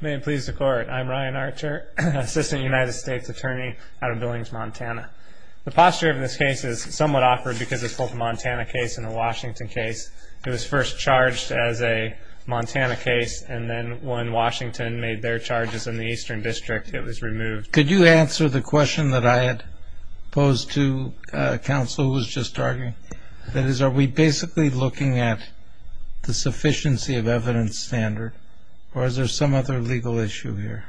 May it please the court, I'm Ryan Archer, Assistant United States Attorney out of Billings, Montana. The posture of this case is somewhat awkward because it's both a Montana case and a Washington case. It was first charged as a Montana case, and then when Washington made their charges in the Eastern District, it was removed. Could you answer the question that I had posed to counsel who was just talking? That is, are we basically looking at the sufficiency of evidence standard, or is there some other legal issue here?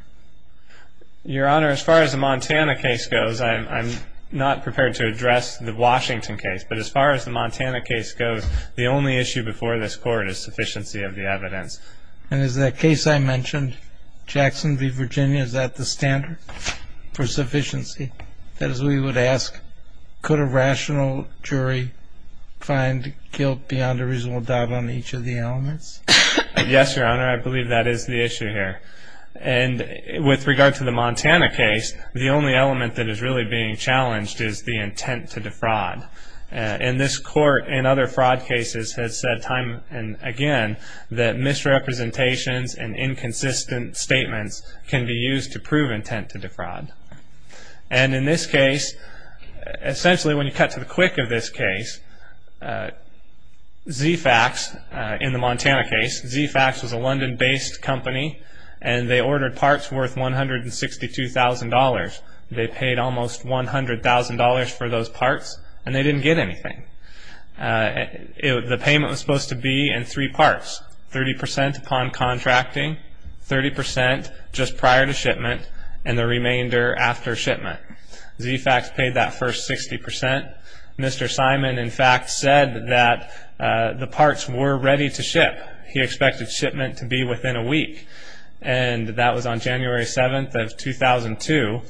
Your Honor, as far as the Montana case goes, I'm not prepared to address the Washington case, but as far as the Montana case goes, the only issue before this court is sufficiency of the evidence. And is that case I mentioned, Jackson v. Virginia, is that the standard for sufficiency? That is, we would ask, could a rational jury find guilt beyond a reasonable doubt on each of the elements? Yes, Your Honor, I believe that is the issue here. And with regard to the Montana case, the only element that is really being challenged is the intent to defraud. And this court, in other fraud cases, has said time and again that misrepresentations and inconsistent statements can be used to prove intent to defraud. And in this case, essentially when you cut to the quick of this case, Z-Fax, in the Montana case, Z-Fax was a London-based company, and they ordered parts worth $162,000. They paid almost $100,000 for those parts, and they didn't get anything. The payment was supposed to be in three parts, 30 percent upon contracting, 30 percent just prior to shipment, and the remainder after shipment. Z-Fax paid that first 60 percent. Mr. Simon, in fact, said that the parts were ready to ship. He expected shipment to be within a week, and that was on January 7th of 2002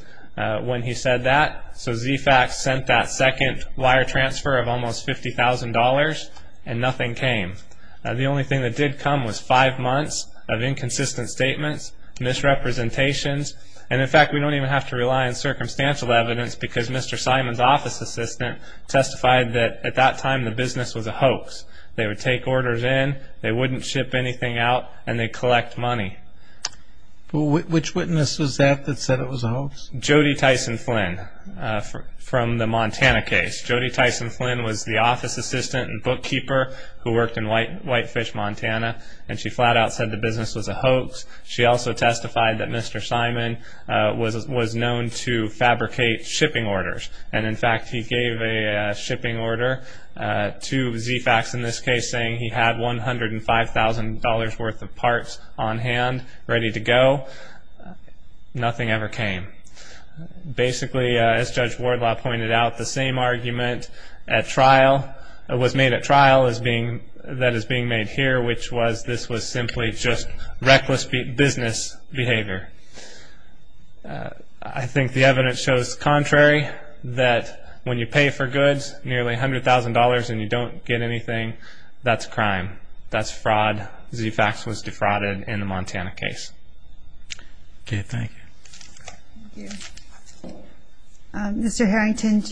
when he said that. So Z-Fax sent that second wire transfer of almost $50,000, and nothing came. The only thing that did come was five months of inconsistent statements, misrepresentations. And, in fact, we don't even have to rely on circumstantial evidence because Mr. Simon's office assistant testified that at that time the business was a hoax. They would take orders in, they wouldn't ship anything out, and they'd collect money. Well, which witness was that that said it was a hoax? Jody Tyson Flynn from the Montana case. Jody Tyson Flynn was the office assistant and bookkeeper who worked in Whitefish, Montana, and she flat out said the business was a hoax. She also testified that Mr. Simon was known to fabricate shipping orders. And, in fact, he gave a shipping order to Z-Fax in this case saying he had $105,000 worth of parts on hand ready to go. Nothing ever came. Basically, as Judge Wardlaw pointed out, the same argument was made at trial that is being made here, which was this was simply just reckless business behavior. I think the evidence shows the contrary, that when you pay for goods nearly $100,000 and you don't get anything, that's crime. That's fraud. Z-Fax was defrauded in the Montana case. Okay, thank you. Thank you. Mr. Harrington,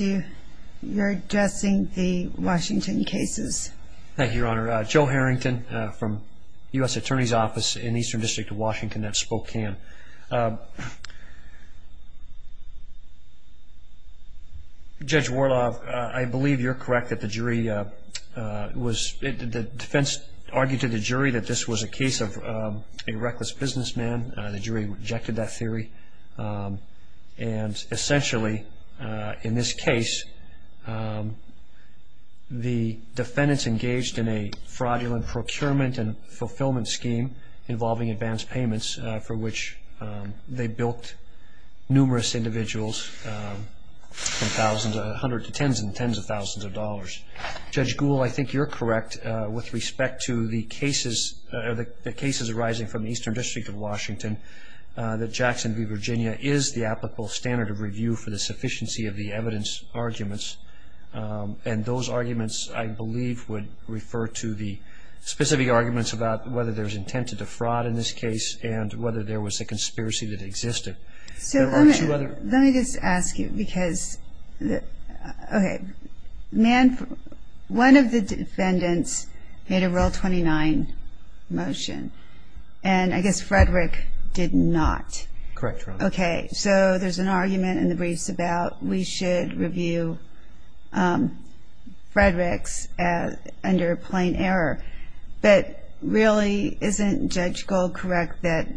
you're addressing the Washington cases. Thank you, Your Honor. Joe Harrington from U.S. Attorney's Office in Eastern District of Washington at Spokane. Judge Wardlaw, I believe you're correct that the defense argued to the jury that this was a case of a reckless businessman. The jury rejected that theory. And, essentially, in this case, the defendants engaged in a fraudulent procurement and fulfillment scheme involving advance payments, for which they bilked numerous individuals from hundreds of tens and tens of thousands of dollars. Judge Gould, I think you're correct with respect to the cases arising from the Eastern District of Washington, that Jackson v. Virginia is the applicable standard of review for the sufficiency of the evidence arguments. And those arguments, I believe, would refer to the specific arguments about whether there's intent to defraud in this case and whether there was a conspiracy that existed. Let me just ask you, because one of the defendants made a Rule 29 motion, and I guess Frederick did not. Correct, Your Honor. Okay, so there's an argument in the briefs about we should review Frederick's under plain error. But really, isn't Judge Gould correct that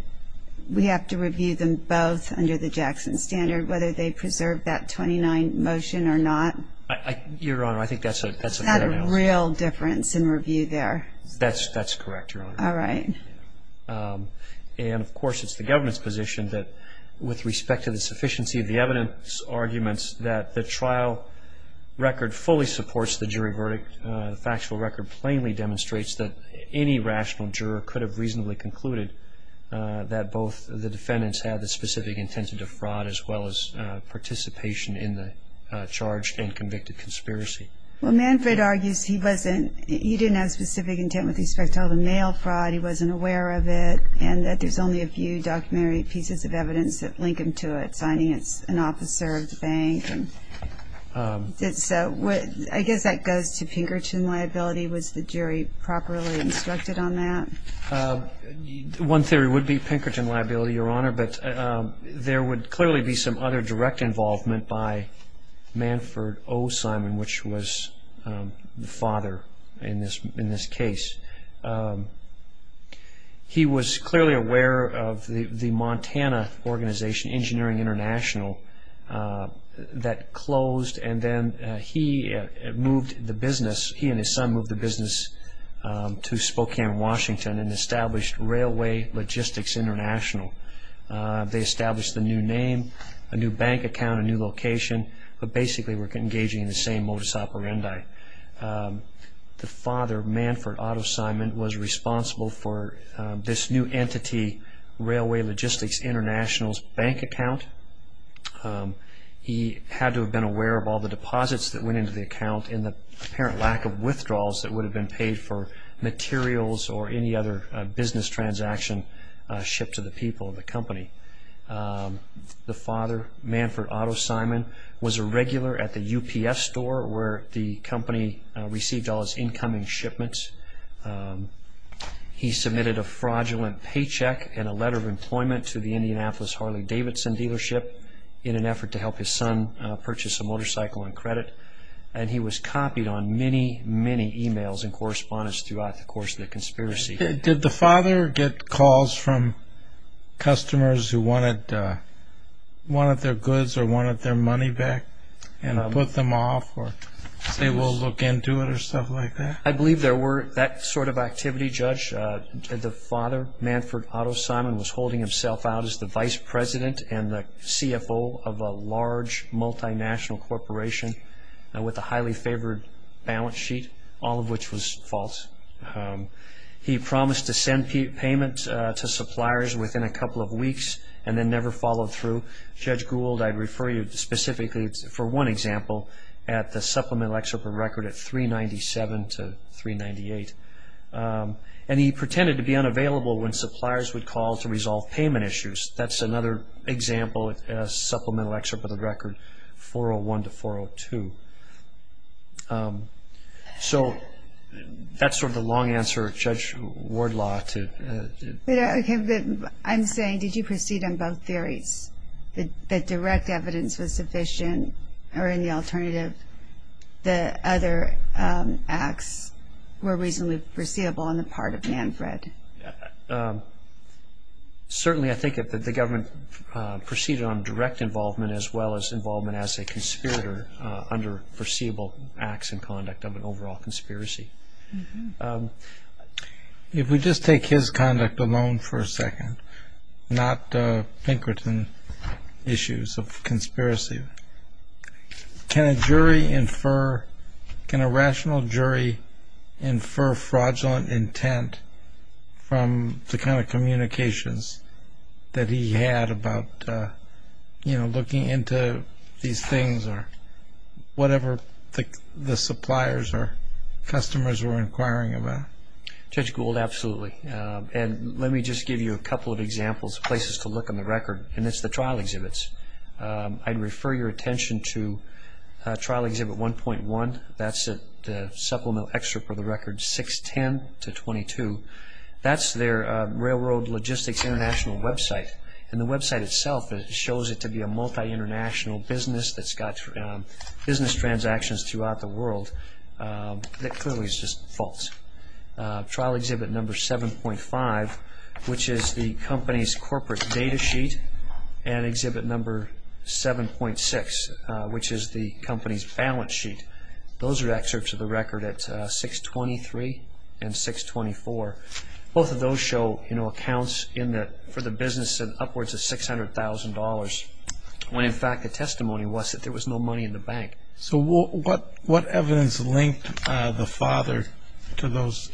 we have to review them both under the Jackson standard, whether they preserve that 29 motion or not? Your Honor, I think that's a fair analysis. Is that a real difference in review there? That's correct, Your Honor. All right. And, of course, it's the government's position that, with respect to the sufficiency of the evidence arguments, that the trial record fully supports the jury verdict. The factual record plainly demonstrates that any rational juror could have reasonably concluded that both the defendants had the specific intent to defraud, as well as participation in the charged and convicted conspiracy. Well, Manfred argues he didn't have specific intent with respect to all the mail fraud, he wasn't aware of it, and that there's only a few documentary pieces of evidence that link him to it, notifying an officer of the bank. I guess that goes to Pinkerton liability. Was the jury properly instructed on that? One theory would be Pinkerton liability, Your Honor, but there would clearly be some other direct involvement by Manfred O. Simon, which was the father in this case. He was clearly aware of the Montana organization, Engineering International, that closed, and then he and his son moved the business to Spokane, Washington, and established Railway Logistics International. They established a new name, a new bank account, a new location, but basically were engaging in the same modus operandi. The father, Manfred Otto Simon, was responsible for this new entity, Railway Logistics International's bank account. He had to have been aware of all the deposits that went into the account and the apparent lack of withdrawals that would have been paid for materials or any other business transaction shipped to the people of the company. The father, Manfred Otto Simon, was a regular at the UPS store where the company received all its incoming shipments. He submitted a fraudulent paycheck and a letter of employment to the Indianapolis Harley-Davidson dealership in an effort to help his son purchase a motorcycle on credit, and he was copied on many, many e-mails and correspondence throughout the course of the conspiracy. Did the father get calls from customers who wanted their goods or wanted their money back and put them off or say we'll look into it or stuff like that? I believe there were that sort of activity, Judge. The father, Manfred Otto Simon, was holding himself out as the vice president and the CFO of a large multinational corporation with a highly favored balance sheet, all of which was false. He promised to send payment to suppliers within a couple of weeks and then never followed through. Judge Gould, I'd refer you specifically for one example, at the supplemental excerpt of the record at 397 to 398. And he pretended to be unavailable when suppliers would call to resolve payment issues. That's another example, a supplemental excerpt of the record, 401 to 402. So that's sort of the long answer, Judge Wardlaw. I'm saying did you proceed on both theories, that direct evidence was sufficient or any alternative, the other acts were reasonably foreseeable on the part of Manfred? Certainly I think that the government proceeded on direct involvement as well as involvement as a conspirator under foreseeable acts and conduct of an overall conspiracy. If we just take his conduct alone for a second, not Pinkerton issues of conspiracy, can a jury infer, can a rational jury infer fraudulent intent from the kind of communications that he had about, you know, looking into these things or whatever the suppliers or customers were inquiring about? Judge Gould, absolutely. And let me just give you a couple of examples, places to look on the record, and it's the trial exhibits. I'd refer your attention to trial exhibit 1.1. That's the supplemental excerpt for the record, 610 to 22. That's their Railroad Logistics International website. And the website itself shows it to be a multi-international business that's got business transactions throughout the world. That clearly is just false. Trial exhibit number 7.5, which is the company's corporate data sheet, and exhibit number 7.6, which is the company's balance sheet. Those are excerpts of the record at 623 and 624. Both of those show, you know, accounts for the business at upwards of $600,000 when, in fact, the testimony was that there was no money in the bank. So what evidence linked the father to those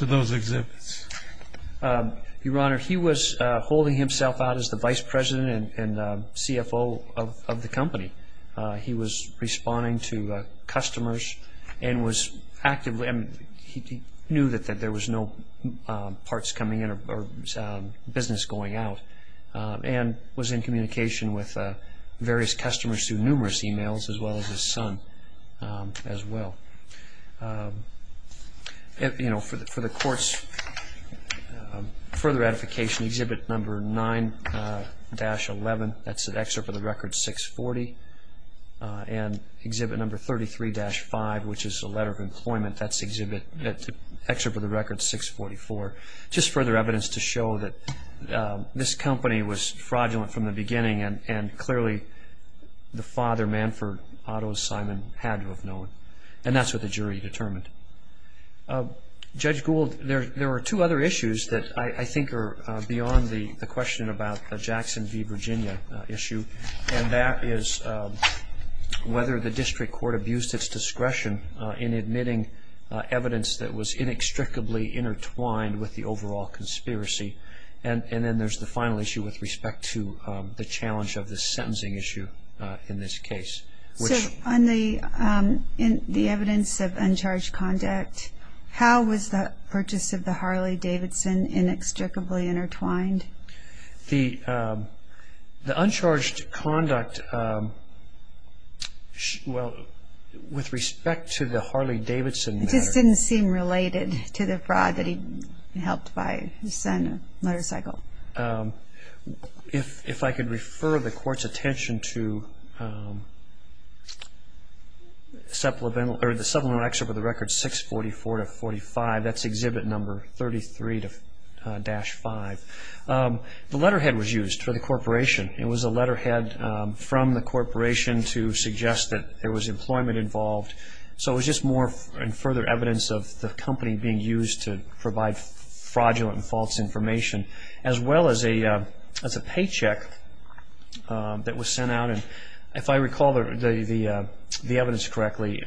exhibits? Your Honor, he was holding himself out as the vice president and CFO of the company. He was responding to customers and was actively He knew that there was no parts coming in or business going out and was in communication with various customers through numerous e-mails as well as his son as well. For the Court's further ratification, exhibit number 9-11. That's an excerpt of the record, 640. And exhibit number 33-5, which is a letter of employment. That's an excerpt of the record, 644. Just further evidence to show that this company was fraudulent from the beginning and clearly the father, Manford Otto Simon, had to have known. And that's what the jury determined. Judge Gould, there are two other issues that I think are beyond the question about the Jackson v. Virginia issue. And that is whether the district court abused its discretion in admitting evidence that was inextricably intertwined with the overall conspiracy. And then there's the final issue with respect to the challenge of the sentencing issue in this case. So on the evidence of uncharged conduct, how was the purchase of the Harley Davidson inextricably intertwined? The uncharged conduct, well, with respect to the Harley Davidson matter. It just didn't seem related to the fraud that he helped buy his son a motorcycle. If I could refer the Court's attention to the supplemental excerpt of the record, 644-45. That's exhibit number 33-5. The letterhead was used for the corporation. It was a letterhead from the corporation to suggest that there was employment involved. So it was just more and further evidence of the company being used to provide fraudulent and false information, as well as a paycheck that was sent out. And if I recall the evidence correctly,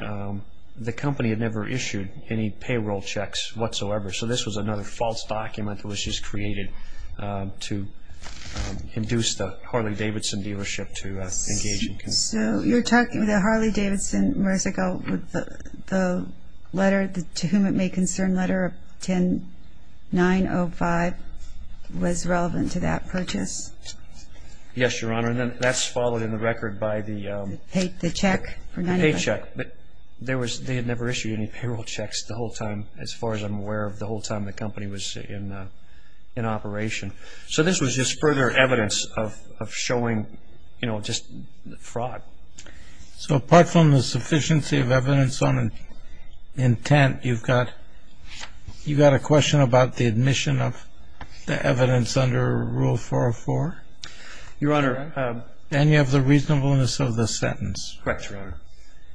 the company had never issued any payroll checks whatsoever. So this was another false document that was just created to induce the Harley Davidson dealership to engage. So you're talking about the Harley Davidson, Marisa, the letter to whom it may concern, Letter 10-905, was relevant to that purchase? Yes, Your Honor. And that's followed in the record by the paycheck. But they had never issued any payroll checks the whole time, as far as I'm aware of the whole time the company was in operation. So this was just further evidence of showing, you know, just fraud. So apart from the sufficiency of evidence on intent, you've got a question about the admission of the evidence under Rule 404? Your Honor. And you have the reasonableness of the sentence. Correct, Your Honor.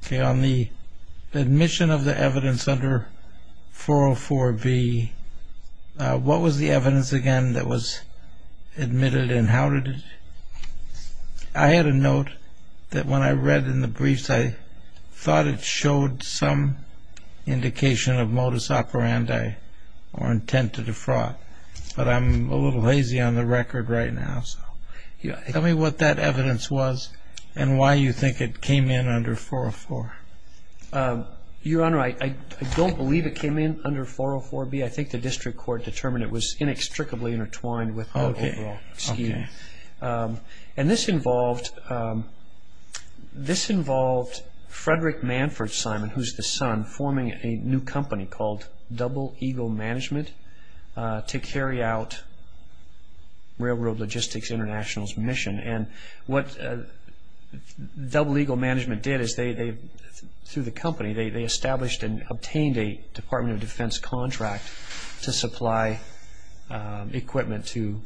Okay, on the admission of the evidence under 404B, what was the evidence again that was admitted and how did it? I had a note that when I read in the briefs, I thought it showed some indication of modus operandi or intent to defraud. But I'm a little lazy on the record right now. Tell me what that evidence was and why you think it came in under 404. Your Honor, I don't believe it came in under 404B. I think the district court determined it was inextricably intertwined with the overall scheme. Okay. And this involved Frederick Manford Simon, who's the son, forming a new company called Double Eagle Management to carry out Railroad Logistics International's mission. And what Double Eagle Management did is they, through the company, they established and obtained a Department of Defense contract to supply equipment to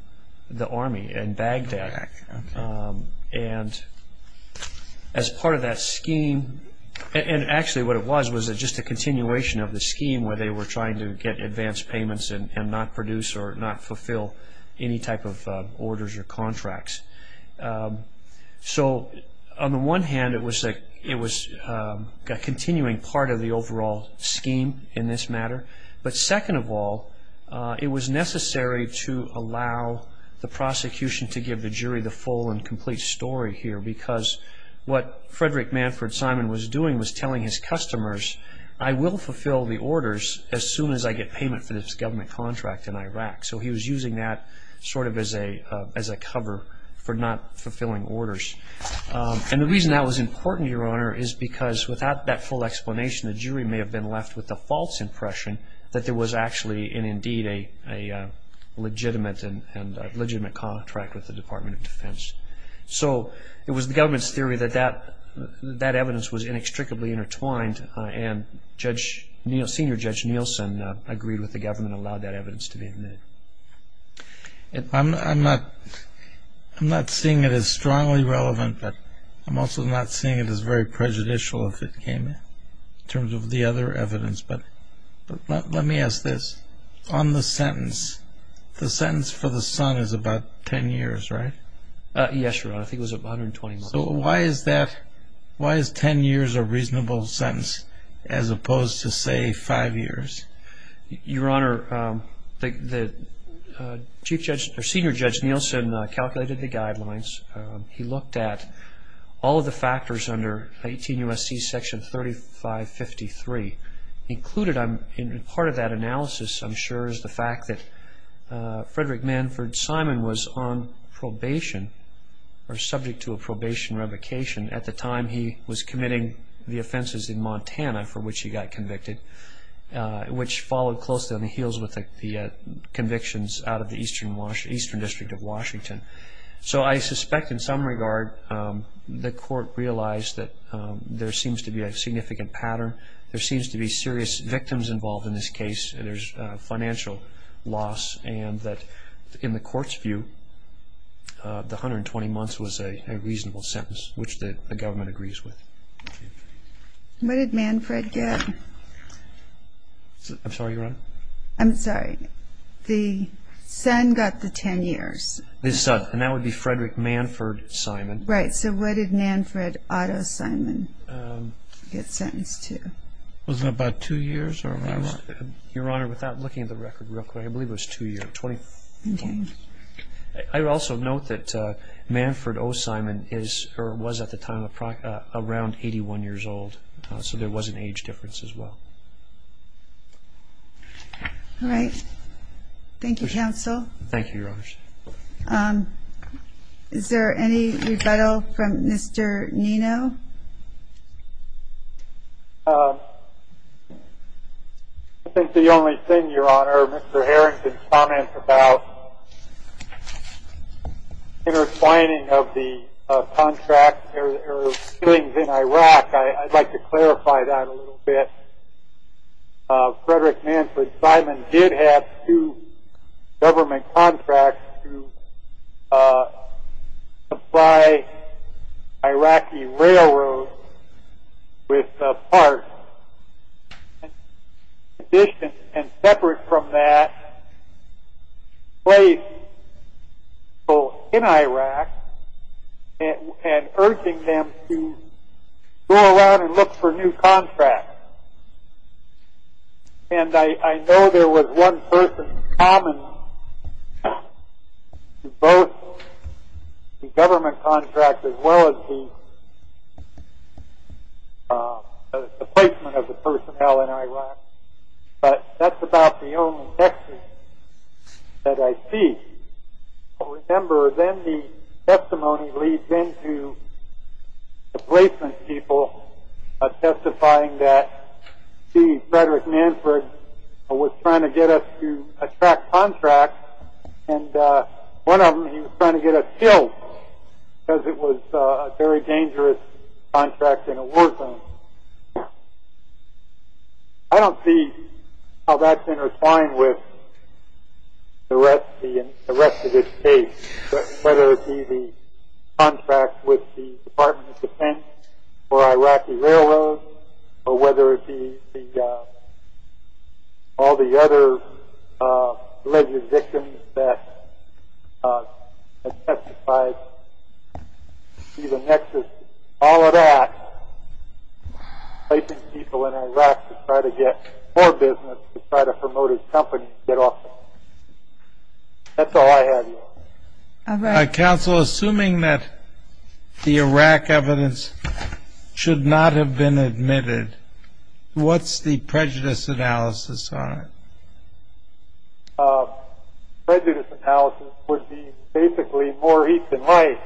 the Army in Baghdad. Okay. And as part of that scheme, and actually what it was was just a continuation of the scheme where they were trying to get advance payments and not produce or not fulfill any type of orders or contracts. So on the one hand, it was a continuing part of the overall scheme in this matter. But second of all, it was necessary to allow the prosecution to give the jury the full and complete story here because what Frederick Manford Simon was doing was telling his customers, I will fulfill the orders as soon as I get payment for this government contract in Iraq. So he was using that sort of as a cover for not fulfilling orders. And the reason that was important, Your Honor, is because without that full explanation, the jury may have been left with the false impression that there was actually and indeed a legitimate contract with the Department of Defense. So it was the government's theory that that evidence was inextricably intertwined and Senior Judge Nielsen agreed with the government and allowed that evidence to be admitted. I'm not seeing it as strongly relevant, but I'm also not seeing it as very prejudicial if it came in terms of the other evidence. But let me ask this. On the sentence, the sentence for the son is about 10 years, right? Yes, Your Honor. I think it was 120 months. So why is 10 years a reasonable sentence as opposed to, say, 5 years? Your Honor, Senior Judge Nielsen calculated the guidelines. He looked at all of the factors under 18 U.S.C. Section 3553. In part of that analysis, I'm sure, is the fact that Frederick Manford Simon was on probation or subject to a probation revocation at the time he was committing the offenses in Montana for which he got convicted, which followed closely on the heels with the convictions out of the Eastern District of Washington. So I suspect in some regard the court realized that there seems to be a significant pattern. There seems to be serious victims involved in this case. And there's financial loss and that in the court's view, the 120 months was a reasonable sentence, which the government agrees with. What did Manford get? I'm sorry, Your Honor? I'm sorry. The son got the 10 years. And that would be Frederick Manford Simon. Right. So what did Manford Otto Simon get sentenced to? Was it about two years? Your Honor, without looking at the record real quick, I believe it was two years. I would also note that Manford O. Simon was at the time around 81 years old. So there was an age difference as well. All right. Thank you, Counsel. Thank you, Your Honors. Is there any rebuttal from Mr. Nino? No. I think the only thing, Your Honor, Mr. Harrington's comments about intertwining of the contract or things in Iraq, I'd like to clarify that a little bit. Frederick Manford Simon did have two government contracts to supply Iraqi railroads with parts. And separate from that, placed people in Iraq and urging them to go around and look for new contracts. And I know there was one person common to both the government contract as well as the placement of the personnel in Iraq. But that's about the only text that I see. I remember then the testimony leads into the placement people testifying that, see, Frederick Manford was trying to get us to attract contracts. And one of them, he was trying to get us killed because it was a very dangerous contract in a war zone. I don't see how that's intertwined with the rest of this case, whether it be the contract with the Department of Defense for Iraqi railroads, or whether it be all the other alleged victims that testified. See, the nexus, all of that, placing people in Iraq to try to get more business, to try to promote his company, to get off the hook. Counsel, assuming that the Iraq evidence should not have been admitted, what's the prejudice analysis on it? Prejudice analysis would be basically more heat than light.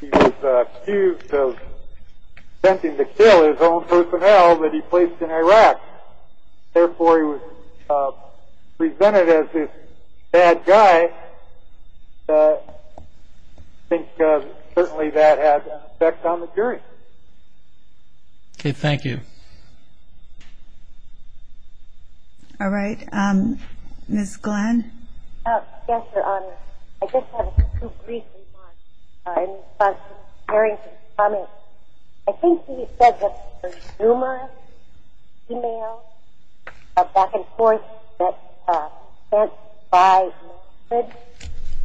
He was accused of attempting to kill his own personnel that he placed in Iraq. Therefore, he was presented as this bad guy. I think certainly that has an effect on the jury. Okay. Thank you. All right. Ms. Glenn. Yes, Your Honor. I just have a brief response in response to Gary's comment. I think he said that there's rumors, e-mails, back and forth, that are sent by the records.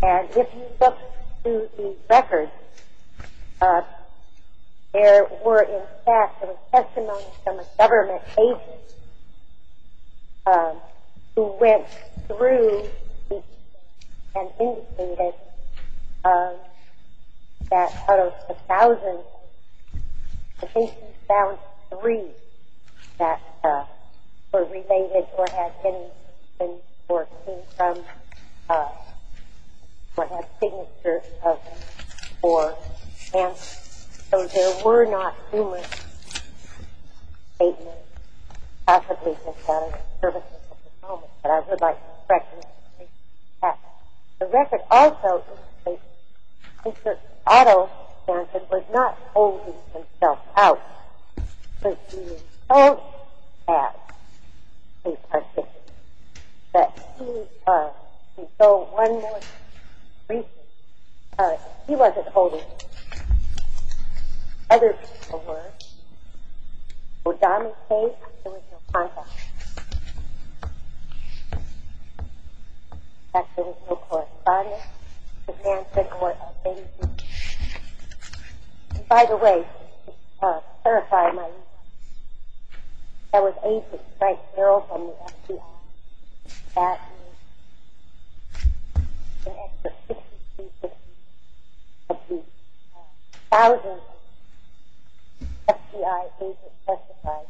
And if you look through these records, there were, in fact, there was testimony from a government agent who went through and indicated that out of a thousand I think he found three that were related or had been from, or had signatures of him, and so there were not rumors, statements, possibly just out of service to the department, but I would like to correct you on that. The record also states that Mr. Otto Johnson was not holding himself out, but he was told as a participant that he was. And so one more thing, briefly, he wasn't holding himself out. Other people were. In the O'Donnell case, there was no contact. In fact, there was no correspondence. And by the way, just to clarify my response, that was Agent Frank Carroll from the FBI. In fact, an extra 6,250 of the thousand FBI agents testified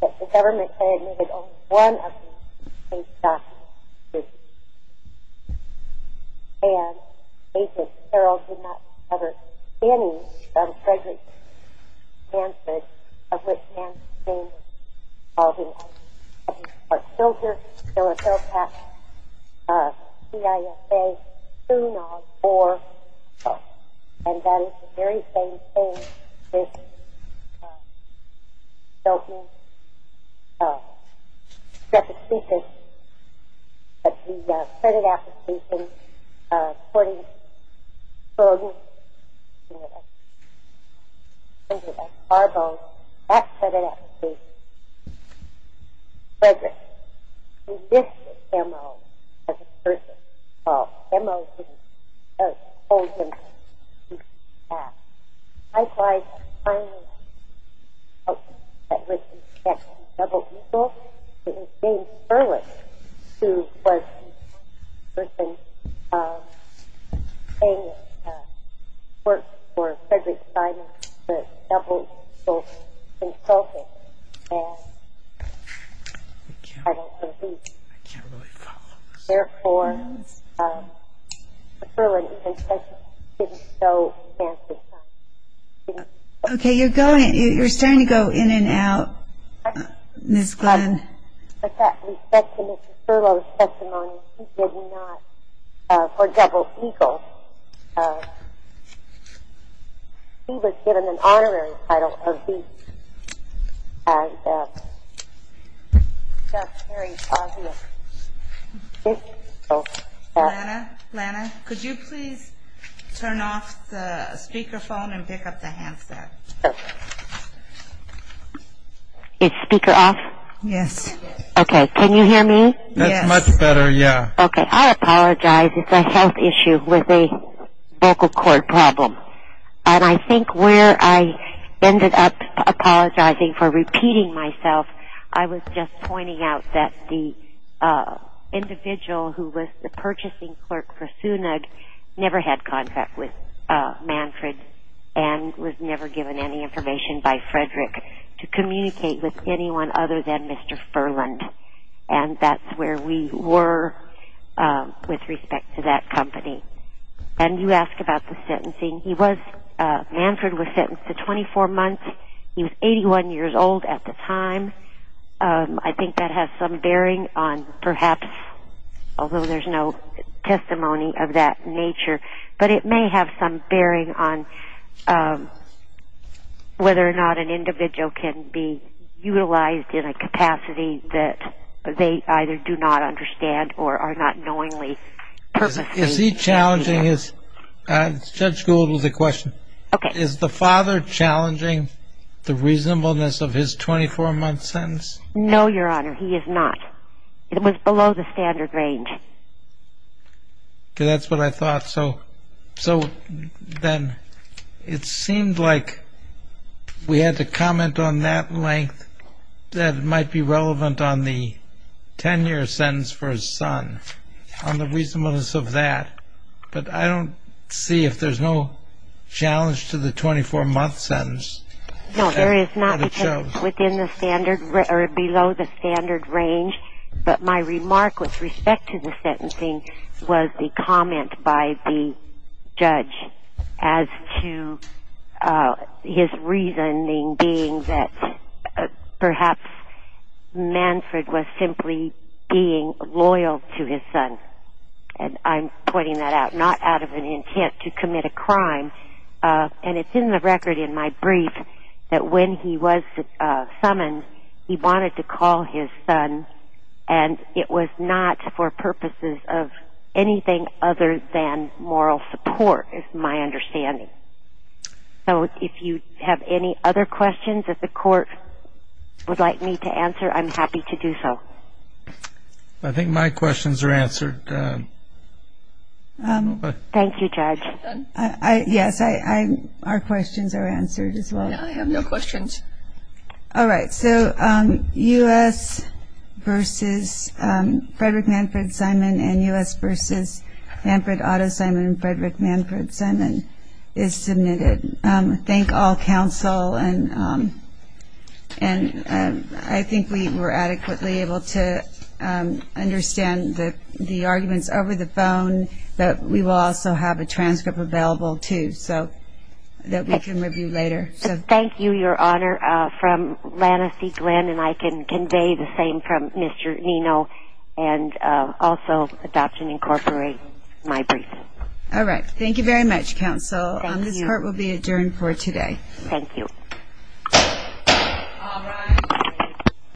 that the government had admitted only one of these answers, of which Nancy's name was involved in all of these cases. But he's still here. He's still in Fairfax. CIFA soon on board. And that is the very same thing with Bill E. second thesis of the credit application, according to Bill E. I think it was Arbo, that credit application, Frederick, who dismissed MO as a person. Well, MO didn't hold him out. Likewise, the final person that was in the double equals was James Perlis, who was the person saying that he worked for Frederick Simon, the double equals consultant. And I don't believe it. Therefore, Mr. Perlis didn't show Nancy Simon. Okay, you're starting to go in and out, Ms. Glenn. In fact, we said to Mr. Perlis testimony, he did not, for double equals, he was given an honorary title of being a very positive. Lana, Lana, could you please turn off the speakerphone and pick up the handset? Is speaker off? Yes. Okay, can you hear me? Yes. That's much better, yeah. Okay, I apologize. It's a health issue with a vocal cord problem. And I think where I ended up apologizing for repeating myself, I was just pointing out that the individual who was the purchasing clerk for SUNUG never had contract with Manfred and was never given any information by Frederick to communicate with anyone other than Mr. Furland. And that's where we were with respect to that company. And you asked about the sentencing. He was, Manfred was sentenced to 24 months. He was 81 years old at the time. I think that has some bearing on perhaps, although there's no testimony of that nature, but it may have some bearing on whether or not an individual can be utilized in a capacity that they either do not understand or are not knowingly purposely challenging. Is he challenging his, Judge Gould has a question. Okay. Is the father challenging the reasonableness of his 24-month sentence? No, Your Honor, he is not. It was below the standard range. Okay. That's what I thought. So then it seemed like we had to comment on that length that might be relevant on the 10-year sentence for his son, on the reasonableness of that. But I don't see if there's no challenge to the 24-month sentence. No, there is not because it's within the standard or below the standard range. But my remark with respect to the sentencing was the comment by the judge as to his reasoning being that perhaps Manfred was simply being loyal to his son. And I'm pointing that out, not out of an intent to commit a crime. And it's in the record in my brief that when he was summoned, he wanted to call his son, and it was not for purposes of anything other than moral support is my understanding. So if you have any other questions that the court would like me to answer, I'm happy to do so. I think my questions are answered. Thank you, Judge. Yes, our questions are answered as well. I have no questions. All right. So U.S. v. Frederick Manfred Simon and U.S. v. Manfred Otto Simon and Frederick Manfred Simon is submitted. Thank all counsel. And I think we were adequately able to understand the arguments over the phone, but we will also have a transcript available, too, so that we can review later. Thank you, Your Honor. From Lana C. Glenn, and I can convey the same from Mr. Nino, and also Adoption Incorporated, my brief. All right. Thank you very much, counsel. Thank you. This court will be adjourned for today. Thank you.